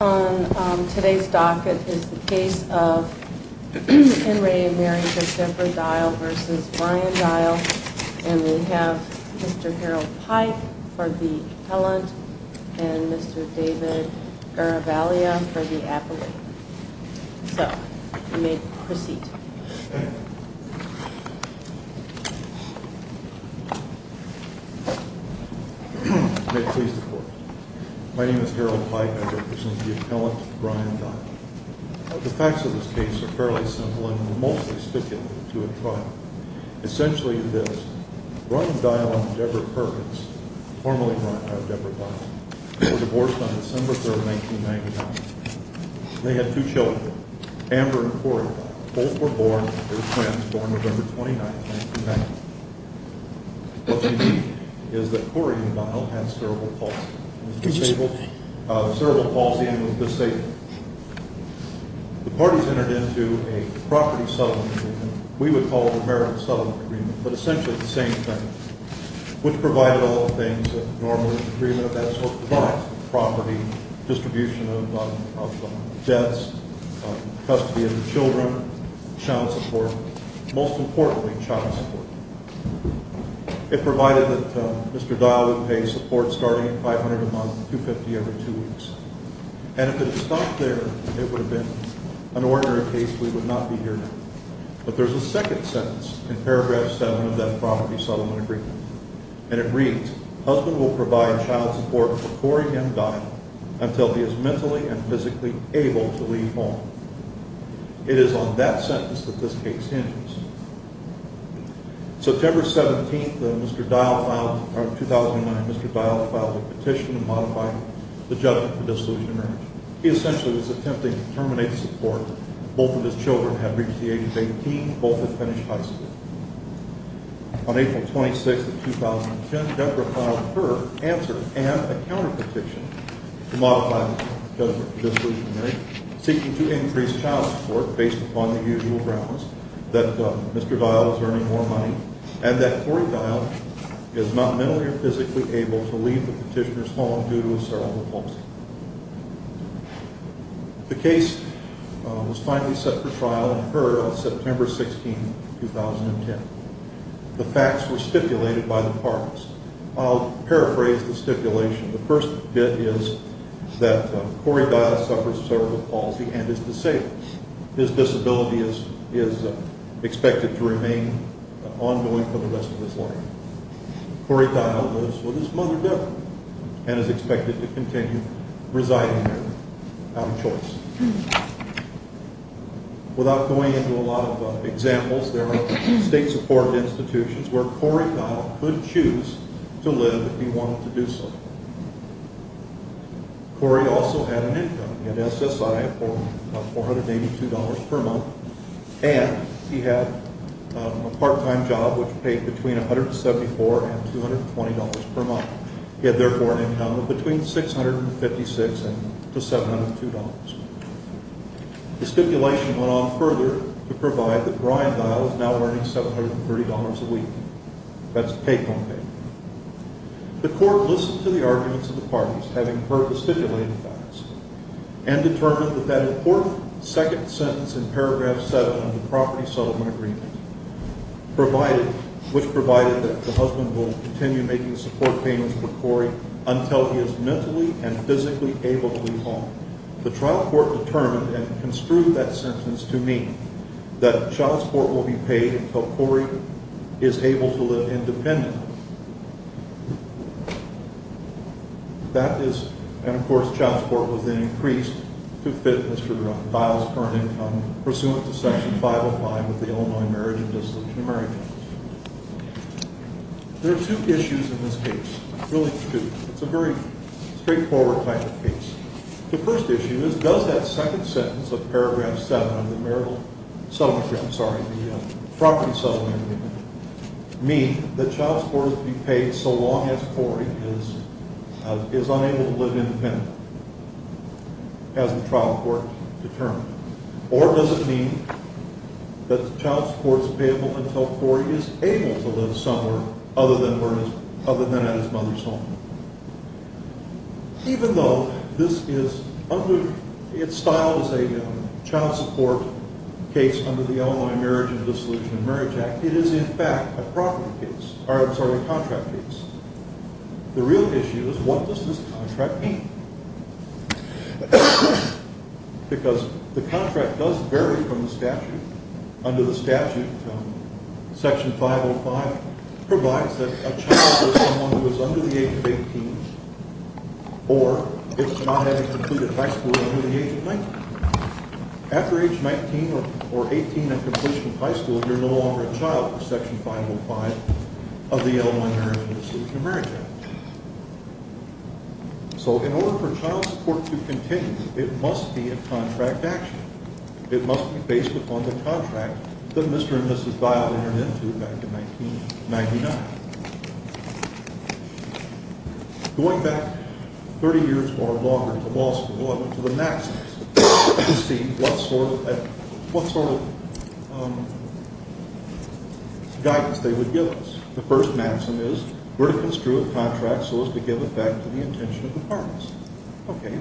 On today's docket is the case of Henry and Mary for Deborah Dial versus Brian Dial and we have Mr. Harold Pike for the appellant and Mr. David Garavaglia for the appellant. So you may proceed. May it please the court. My name is Harold Pike and I represent the appellant Brian Dial. The facts of this case are fairly simple and will mostly stick it to a trial. Essentially this, Brian Dial and Deborah Perkins, formerly Brian and Deborah Dial, were divorced on December 3, 1999. They had two children, Amber and Cory. Both were born, they were twins, born November 29, 1999. What's unique is that Cory and Dial had cerebral palsy and was disabled. The parties entered into a property settlement agreement, we would call it a marriage settlement agreement, but essentially the same thing, which provided all the things that normally an agreement of that sort provides. Property, distribution of debts, custody of the children, child support, most importantly child support. It provided that Mr. Dial would pay support starting at $500 a month, $250 every two weeks. And if it had stopped there, it would have been an ordinary case, we would not be here now. But there's a second sentence in paragraph 7 of that property settlement agreement. And it reads, husband will provide child support for Cory and Dial until he is mentally and physically able to leave home. It is on that sentence that this case ends. September 17, 2009, Mr. Dial filed a petition to modify the judgment for dissolution of marriage. He essentially was attempting to terminate the support. Both of his children had reached the age of 18, both had finished high school. On April 26, 2010, Deborah filed her answer and a counter-petition to modify the judgment for dissolution of marriage, seeking to increase child support based upon the usual grounds that Mr. Dial was earning more money and that Cory Dial is not mentally or physically able to leave the petitioner's home due to a cerebral palsy. The case was finally set for trial and heard on September 16, 2010. The facts were stipulated by the parties. I'll paraphrase the stipulation. The first bit is that Cory Dial suffers cerebral palsy and is disabled. His disability is expected to remain ongoing for the rest of his life. Cory Dial lives with his mother, Deborah, and is expected to continue residing there out of choice. Without going into a lot of examples, there are state-supported institutions where Cory Dial could choose to live if he wanted to do so. Cory also had an income. He had SSI of $482 per month and he had a part-time job which paid between $174 and $220 per month. He had therefore an income of between $656 and $702. The stipulation went on further to provide that Brian Dial is now earning $730 a week. That's a payphone payment. The court listened to the arguments of the parties, having heard the stipulated facts, and determined that that important second sentence in paragraph 7 of the property settlement agreement, which provided that the husband will continue making support payments for Cory until he is mentally and physically able to leave home. The trial court determined and construed that sentence to mean that child support will be paid until Cory is able to live independently. That is, and of course, child support was then increased to fit Mr. Dial's current income pursuant to Section 505 of the Illinois Marriage and Discipline Summary Act. There are two issues in this case, really two. It's a very straightforward type of case. The first issue is, does that second sentence of paragraph 7 of the property settlement agreement mean that child support will be paid so long as Cory is unable to live independently, as the trial court determined? Or does it mean that child support is payable until Cory is able to live somewhere other than at his mother's home? Even though this is under, it's styled as a child support case under the Illinois Marriage and Dissolution of Marriage Act, it is in fact a property case, or I'm sorry, a contract case. The real issue is, what does this contract mean? Because the contract does vary from the statute. Under the statute, Section 505 provides that a child is someone who is under the age of 18 or is not having completed high school under the age of 19. After age 19 or 18 and completion of high school, you're no longer a child under Section 505 of the Illinois Marriage and Dissolution of Marriage Act. So in order for child support to continue, it must be a contract action. It must be based upon the contract that Mr. and Mrs. Dial entered into back in 1999. Going back 30 years or longer to law school, I went to the maxims to see what sort of guidance they would give us. The first maxim is, we're to construe a contract so as to give it back to the intention of the parties. Okay,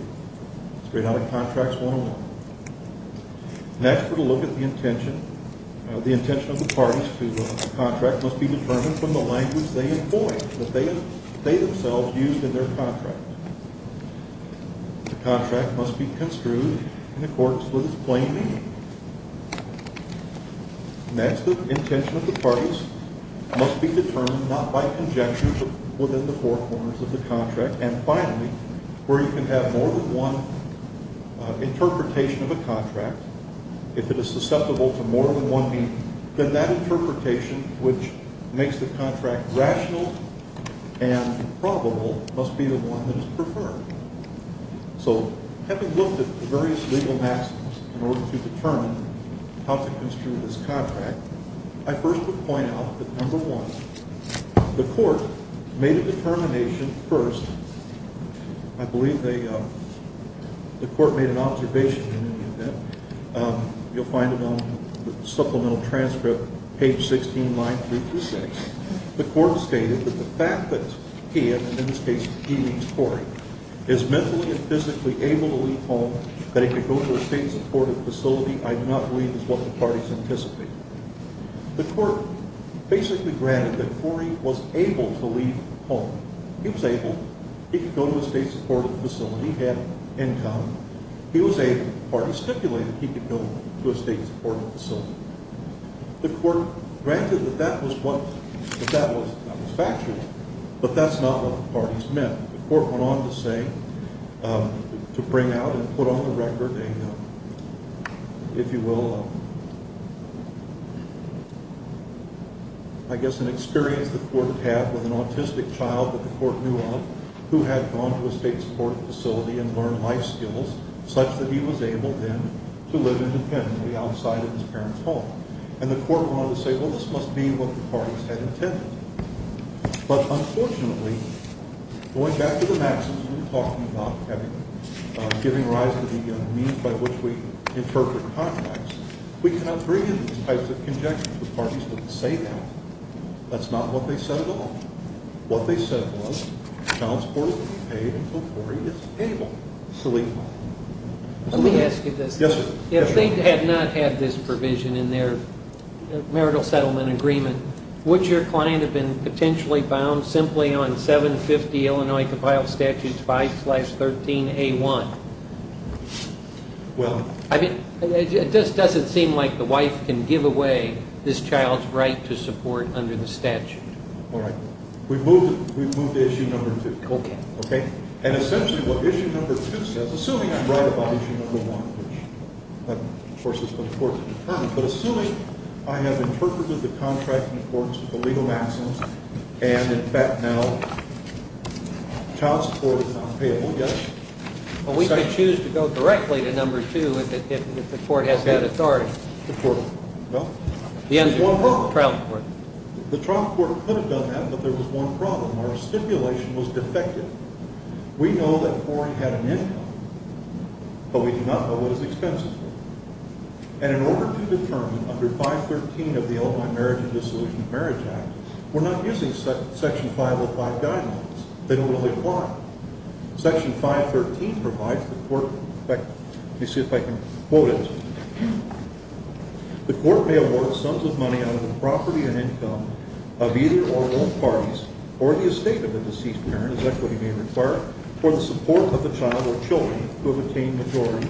straight out of Contracts 101. Next, we're to look at the intention of the parties to whom the contract must be determined from the language they employed, that they themselves used in their contract. The contract must be construed in accordance with its plain meaning. Next, the intention of the parties must be determined not by conjecture but within the four corners of the contract. And finally, where you can have more than one interpretation of a contract, if it is susceptible to more than one meaning, then that interpretation which makes the contract rational and probable must be the one that is preferred. So, having looked at the various legal maxims in order to determine how to construe this contract, I first would point out that, number one, the court made a determination first. I believe the court made an observation in any event. You'll find it on the supplemental transcript, page 16, line 326. The court stated that the fact that he, and in this case he means Corey, is mentally and physically able to leave home, that he could go to a state-supported facility, I do not believe is what the parties anticipated. The court basically granted that Corey was able to leave home. He was able. He could go to a state-supported facility. He had income. He was able. The parties stipulated he could go to a state-supported facility. The court granted that that was factual, but that's not what the parties meant. The court went on to say, to bring out and put on the record a, if you will, I guess an experience the court had with an autistic child that the court knew of, who had gone to a state-supported facility and learned life skills, such that he was able then to live independently outside of his parents' home. And the court went on to say, well, this must be what the parties had intended. But unfortunately, going back to the maxims we were talking about, giving rise to the means by which we interpret contracts, we cannot bring in these types of conjectures. The parties didn't say that. That's not what they said at all. What they said was, child support will be paid until Corey is able to leave home. Let me ask you this. Yes, sir. If they had not had this provision in their marital settlement agreement, would your client have been potentially bound simply on 750 Illinois Compiled Statutes 5-13A1? Well... It just doesn't seem like the wife can give away this child's right to support under the statute. All right. We've moved to issue number two. Okay. And essentially what issue number two says, assuming I'm right about issue number one, which of course is the court's determinant, but assuming I have interpreted the contract in accordance with the legal maxims, and in fact now child support is not payable, yes? Well, we could choose to go directly to number two if the court has that authority. The court, well... The trial court. The trial court could have done that, but there was one problem. Our stipulation was defective. We know that Corey had an income, but we do not know what his expenses were. And in order to determine under 513 of the Illinois Marriage and Dissolution of Marriage Act, we're not using Section 505 guidelines. They don't really apply. Section 513 provides the court... In fact, let me see if I can quote it. The court may award sums of money out of the property and income of either or both parties or the estate of the deceased parent, as equity may require, for the support of the child or children who have attained maturity.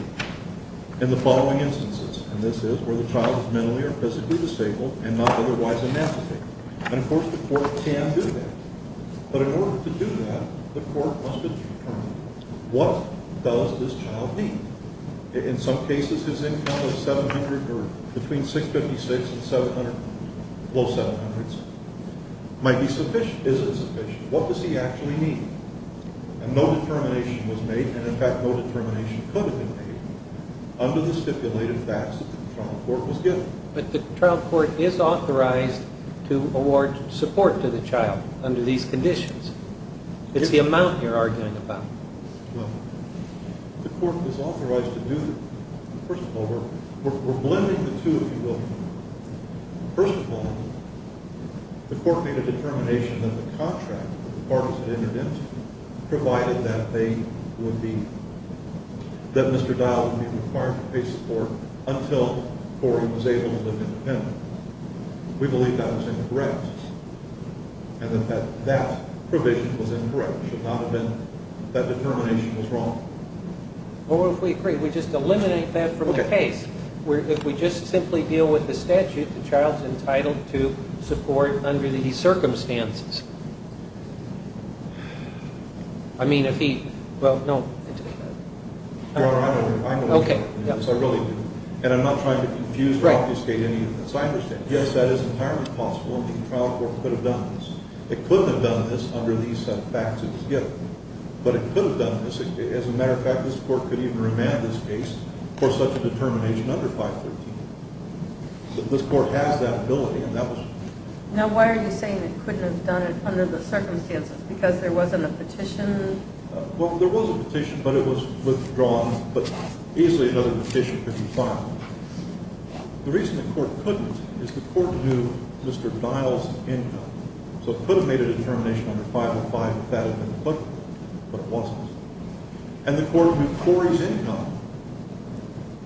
In the following instances, and this is where the child is mentally or physically disabled and not otherwise emancipated. And of course the court can do that. But in order to do that, the court must determine what does this child need? In some cases his income is 700 or between 656 and 700, low 700s, might be sufficient. Is it sufficient? What does he actually need? And no determination was made, and in fact no determination could have been made, under the stipulated facts that the trial court was given. But the trial court is authorized to award support to the child under these conditions. It's the amount you're arguing about. The court is authorized to do that. First of all, we're blending the two, if you will. First of all, the court made a determination that the contract that the parties had entered into provided that they would be, that Mr. Dow would be required to pay support until Cory was able to live independently. We believe that was incorrect, and that that provision was incorrect. It should not have been. That determination was wrong. Well, if we agree, we just eliminate that from the case. If we just simply deal with the statute, the child's entitled to support under these circumstances. I mean, if he, well, no. Your Honor, I don't agree with that. Yes, I really do. And I'm not trying to confuse or obfuscate any of this. I understand. Yes, that is entirely possible. The trial court could have done this. It couldn't have done this under these set of facts. But it could have done this. As a matter of fact, this court could even remand this case for such a determination under 513. This court has that ability. Now, why are you saying it couldn't have done it under the circumstances? Because there wasn't a petition? Well, there was a petition, but it was withdrawn. But easily another petition could be filed. The reason the court couldn't is the court knew Mr. Dow's income. So it could have made a determination under 505 if that had been applicable, but it wasn't. And the court knew Corey's income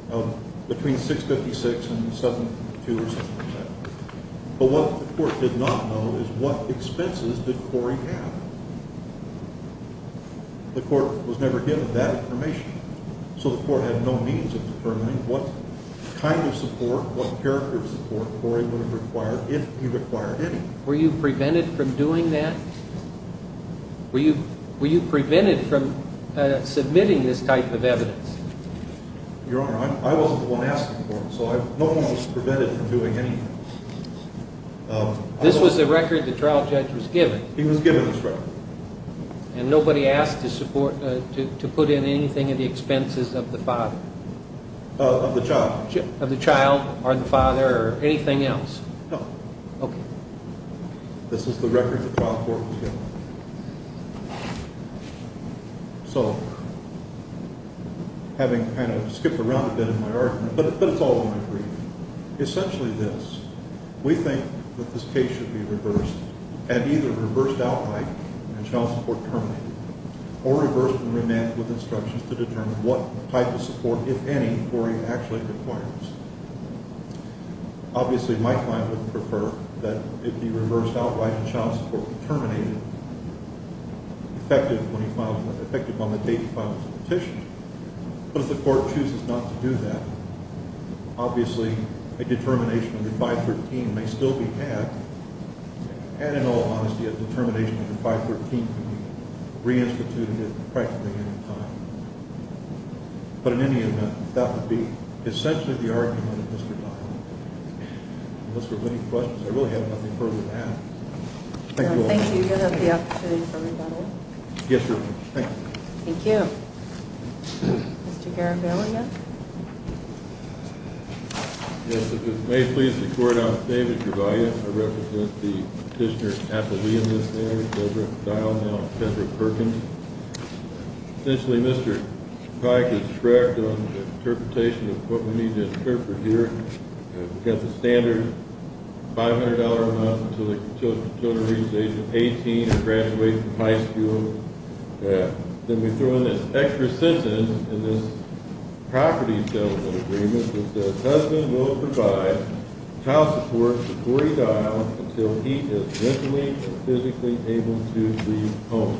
of between 656 and 72 or something like that. But what the court did not know is what expenses did Corey have. The court was never given that information. So the court had no means of determining what kind of support, what character of support Corey would have required if he required any. Were you prevented from doing that? Were you prevented from submitting this type of evidence? Your Honor, I wasn't the one asking for it. So no one was prevented from doing anything. This was the record the trial judge was given? He was given this record. And nobody asked to put in anything at the expenses of the father? Of the child. Of the child, or the father, or anything else? No. This is the record the trial court was given. So, having kind of skipped around a bit in my argument, but it's all in my brief. Essentially this, we think that this case should be reversed, and either reversed outright and child support terminated, or reversed and remanded with instructions to determine what type of support, if any, Corey actually requires. Obviously my client would prefer that it be reversed outright and child support terminated, effective on the date he files the petition. But if the court chooses not to do that, obviously a determination under 513 may still be had, and in all honesty a determination under 513 can be reinstituted at practically any time. But in any event, that would be essentially the argument of Mr. Dial. Unless there are any questions, I really have nothing further to add. Thank you all. Thank you. Do you have the opportunity for rebuttal? Yes, sir. Thank you. Thank you. Mr. Garibayle, yes? Yes, if it may please the court, I'm David Garibayle. I represent the petitioner's athlete in this case, Deborah Dial, now Kendra Perkins. Essentially Mr. Pike is correct on the interpretation of what we need to interpret here. We've got the standard $500 a month until the children reach the age of 18 and graduate from high school. Then we throw in this extra sentence in this property settlement agreement that says, the husband will provide child support to Corey Dial until he is mentally and physically able to leave home.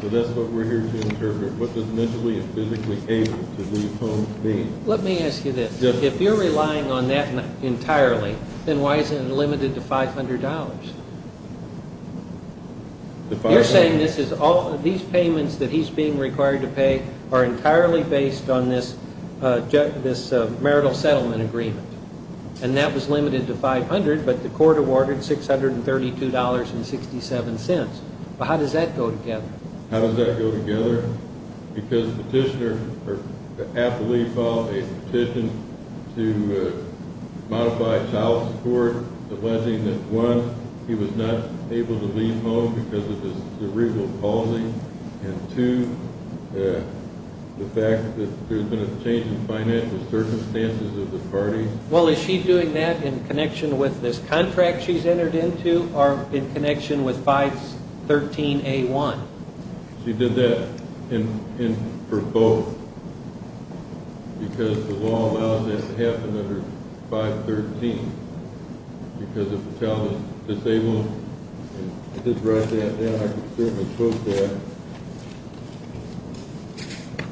So that's what we're here to interpret. What does mentally and physically able to leave home mean? Let me ask you this. If you're relying on that entirely, then why is it limited to $500? You're saying these payments that he's being required to pay are entirely based on this marital settlement agreement. And that was limited to $500, but the court awarded $632.67. How does that go together? Because the athlete filed a petition to modify child support alleging that one, he was not able to leave home because of his cerebral palsy. And two, the fact that there's been a change in financial circumstances of the party. Well, is she doing that in connection with this contract she's entered into or in connection with 513A1? She did that for both. Because the law allows that to happen under 513. Because if a child is disabled, and I did write that down, I can certainly quote that.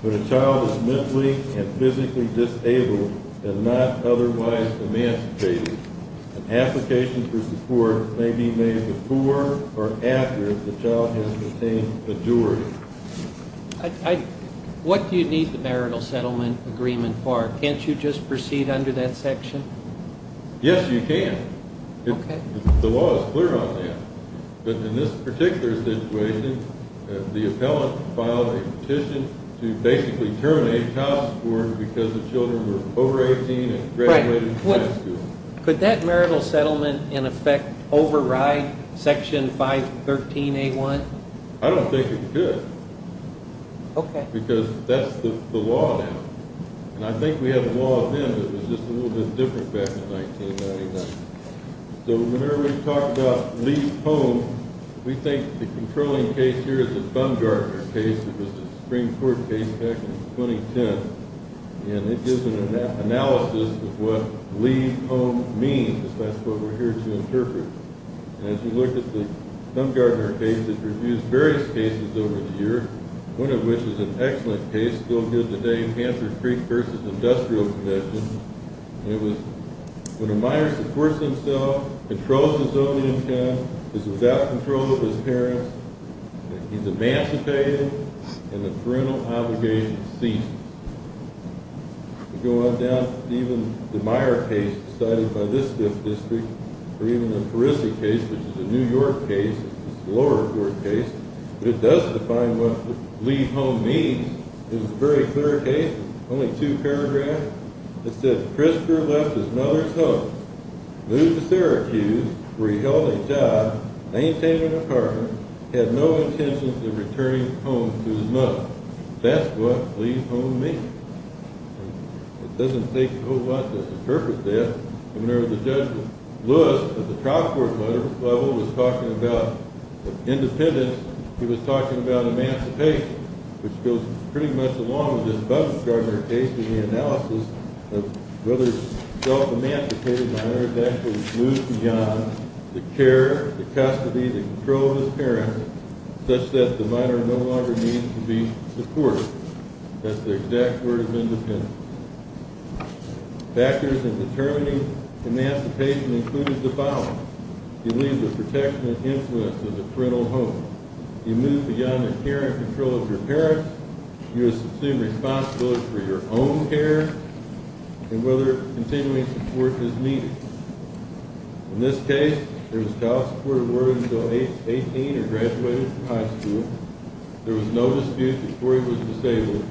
When a child is mentally and physically disabled and not otherwise emancipated, an application for support may be made before or after the child has obtained a jury. What do you need the marital settlement agreement for? Can't you just proceed under that section? Yes, you can. The law is clear on that. But in this particular situation, the appellant filed a petition to basically terminate child support because the children were over 18 and graduated from high school. Could that marital settlement, in effect, override Section 513A1? I don't think it could. Okay. Because that's the law now. And I think we have a law then that was just a little bit different back in 1999. So whenever we talk about leave home, we think the controlling case here is the Bungardner case. It was the Supreme Court case back in 2010. And it gives an analysis of what leave home means. That's what we're here to interpret. And as you look at the Bungardner case, it reviews various cases over the year. One of which is an excellent case, still good today, Hampshire Creek vs. Industrial Convention. It was when a minor supports himself, controls his own income, is without control of his parents, he's emancipated, and the parental obligation ceases. We go on down to even the Meyer case decided by this district, or even the Perisic case, which is a New York case. It's a lower court case, but it does define what leave home means. It's a very clear case, only two paragraphs. It says, Christopher left his mother's home, moved to Syracuse where he held a job, maintained an apartment, with no intentions of returning home to his mother. That's what leave home means. It doesn't take a whole lot to interpret that. And whenever the judge Lewis, at the trial court level, was talking about independence, he was talking about emancipation, which goes pretty much along with this Bungardner case in the analysis of whether self-emancipated minor is actually moved beyond the care, the custody, the control of his parents, such that the minor no longer needs to be supported. That's the exact word of independence. Factors in determining emancipation included the following. You leave the protection and influence of the parental home. You move beyond the care and control of your parents. You assume responsibility for your own care and whether continuing support is needed. In this case, there was child supported working until age 18 or graduated from high school. There was no dispute that Cory was disabled.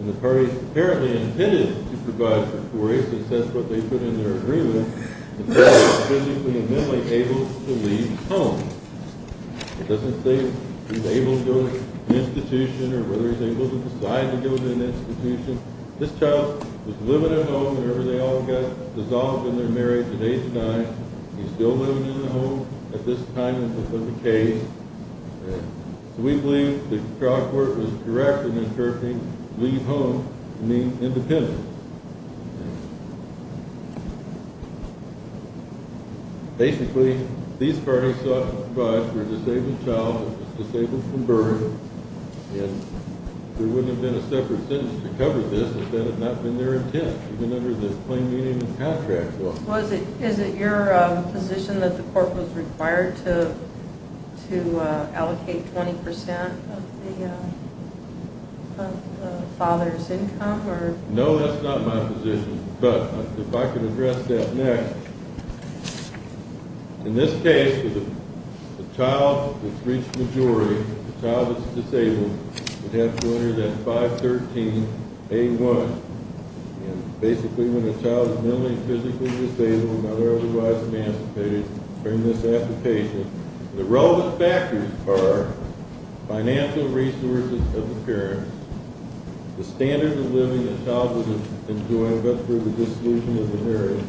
And the parties apparently intended to provide for Cory, since that's what they put in their agreement, the child was physically and mentally able to leave home. It doesn't say if he's able to go to an institution or whether he's able to decide to go to an institution. This child was living at home whenever they all got dissolved in their marriage at age nine. He's still living in the home at this time in the case. So we believe the trial court was correct in interpreting leave home to mean independence. Basically, these parties sought to provide for a disabled child who was disabled from birth. There wouldn't have been a separate sentence to cover this if that had not been their intent, even under the plain meaning of the contract law. Is it your position that the court was required to allocate 20% of the father's income? No, that's not my position, but if I could address that next. In this case, the child that's reached maturity, the child that's disabled, would have to enter that 513A1. And basically, when a child is mentally and physically disabled and not otherwise emancipated during this application, the relevant factors are financial resources of the parents, the standard of living the child would have enjoyed, but for the dissolution of the marriage,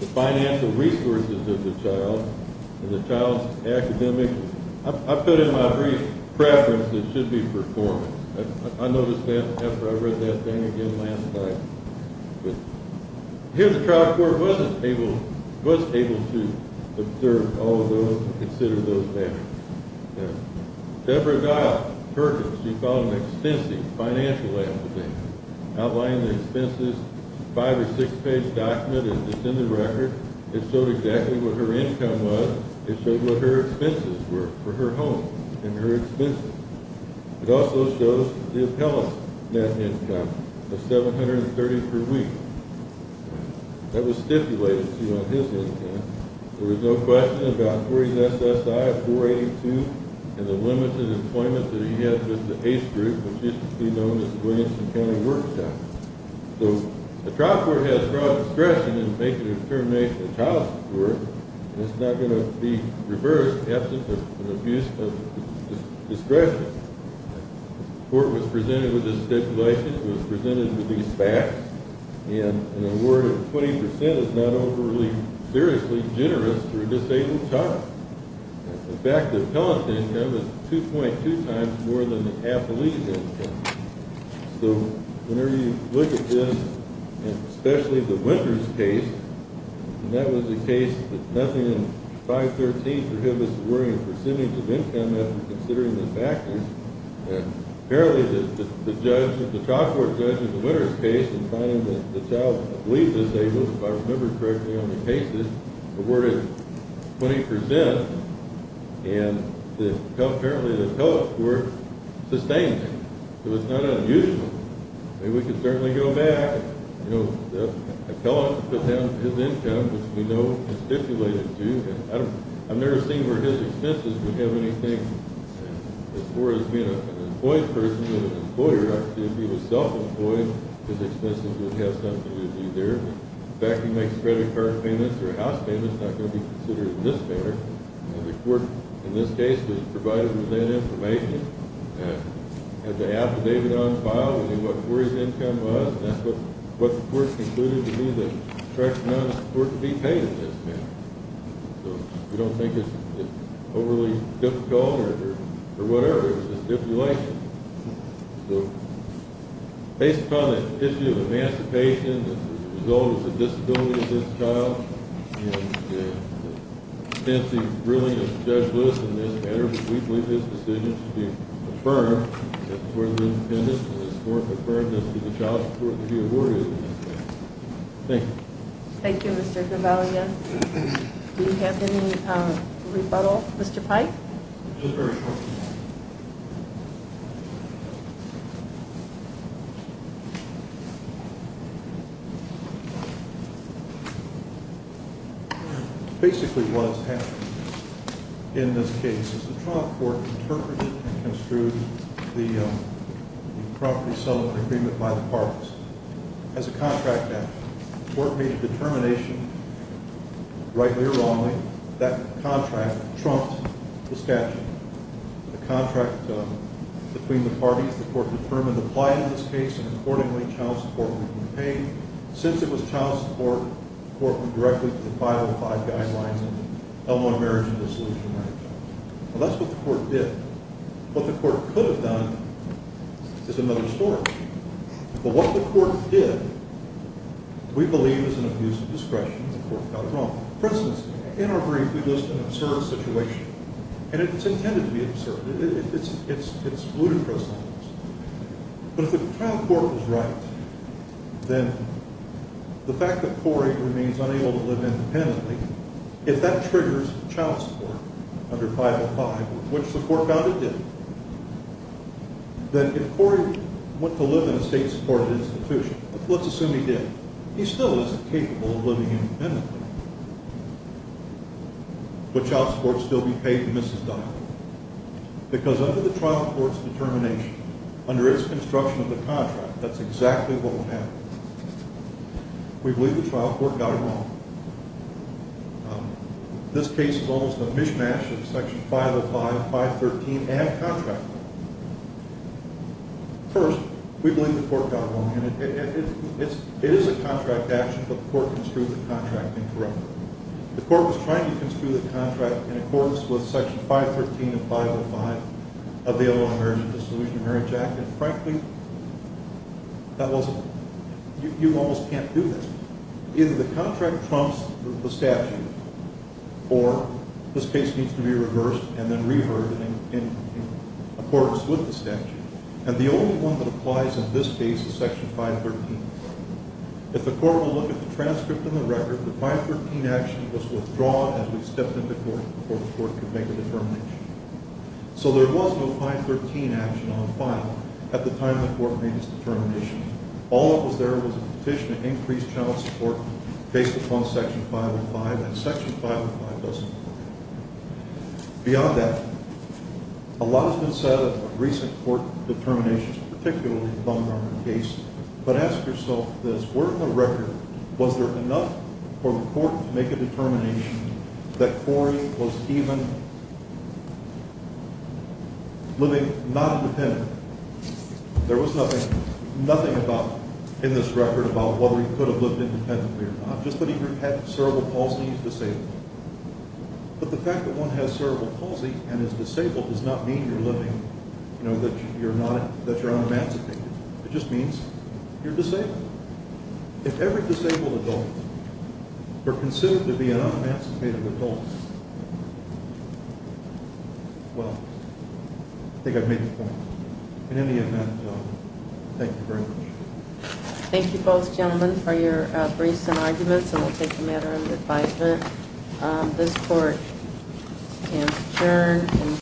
the financial resources of the child and the child's academic, I've put in my brief preference that it should be performance. I noticed that after I read that thing again last night. Here, the trial court was able to observe all of those and consider those factors. Deborah Giles, her case, she filed an extensive financial application outlining the expenses, five or six page document, and it's in the record. It showed exactly what her income was. It showed what her expenses were for her home and her expenses. It also shows the appellant's net income of $730 per week. That was stipulated to you on his intent. There was no question about 40 SSI, 482, and the limited employment that he had with the ACE group, which used to be known as Williamson County Workshops. So, the trial court has broad discretion in making a determination of child support, and it's not going to be reversed in the absence of an abuse of discretion. The court was presented with this stipulation. It was presented with these facts, and in a word, 20% is not overly, seriously generous to a disabled child. In fact, the appellant's income is 2.2 times more than the appellee's income. So, whenever you look at this, and especially the Winters case, and that was a case that nothing in 513 prohibits the worrying percentage of income after considering the factors. Apparently, the trial court judge in the Winters case in finding that the child was disabled, if I remember correctly on the cases, awarded 20%, and apparently the appellants were sustained. So, it's not unusual. We could certainly go back. You know, the appellant put down his income, which we know is stipulated, too. I've never seen where his expenses would have anything, as far as being an employed person with an employer, if he was self-employed, his expenses would have something to do there. In fact, if he makes credit card payments or house payments, it's not going to be considered in this manner. And the court, in this case, was provided with that information, and had the affidavit on file, we knew what Corey's income was, and that's what the court concluded to be the correct amount of support to be paid in this manner. So, we don't think it's overly difficult or whatever. It's a stipulation. So, based upon the issue of emancipation, as a result of the disability of this child, and the extensive ruling of Judge Lewis in this matter, we believe this decision should be affirmed, as far as independence, and the court affirmed this to be child support to be awarded. Thank you. Thank you, Mr. Gavalia. Do you have any rebuttal, Mr. Pike? Just very shortly. Thank you. Basically, what has happened in this case is the Trump court interpreted and construed the property settlement agreement by the Parks as a contract action. The court made a determination, rightly or wrongly, that contract trumped the statute. The contract between the parties, the court determined, applied in this case, and accordingly, child support would be paid. Since it was child support, the court went directly to the 505 guidelines in the Elmwood Marriage and Dissolution Act. Well, that's what the court did. What the court could have done is another story. But what the court did, we believe, is an abuse of discretion. The court got it wrong. For instance, in our brief, we list an absurd situation, and it's intended to be absurd. It's ludicrous. But if the trial court was right, then the fact that Corey remains unable to live independently, if that triggers child support under 505, which the court found it did, then if Corey went to live in a state-supported institution, let's assume he did, he still isn't capable of living independently. Would child support still be paid? The missus died. Because under the trial court's determination, under its construction of the contract, that's exactly what will happen. We believe the trial court got it wrong. This case involves the mishmash of Section 505, 513, and contract law. First, we believe the court got it wrong, and it is a contract action, but the court construed the contract incorrectly. The court was trying to construe the contract in accordance with Section 513 of 505 of the Illinois Marriage and Dissolution of Marriage Act, and frankly, you almost can't do this. Either the contract trumps the statute, or this case needs to be reversed and then reheard in accordance with the statute. And the only one that applies in this case is Section 513. If the court will look at the transcript and the record, the 513 action was withdrawn as we stepped into court before the court could make a determination. So there was no 513 action on file at the time the court made its determination. All that was there was a petition to increase child support based upon Section 505, and Section 505 doesn't apply. Beyond that, a lot has been said about recent court determinations, particularly the Bumgarner case, but ask yourself this. Were in the record, was there enough for the court to make a determination that Corey was even living, not independent? There was nothing about, in this record, about whether he could have lived independently or not, just that he had cerebral palsy and he's disabled. But the fact that one has cerebral palsy and is disabled does not mean you're living, you know, that you're unemancipated. It just means you're disabled. If every disabled adult were considered to be an unemancipated adult, well, I think I've made the point. In any event, thank you very much. Thank you both gentlemen for your briefs and arguments, and we'll take a matter under advisement. This court stands adjourned.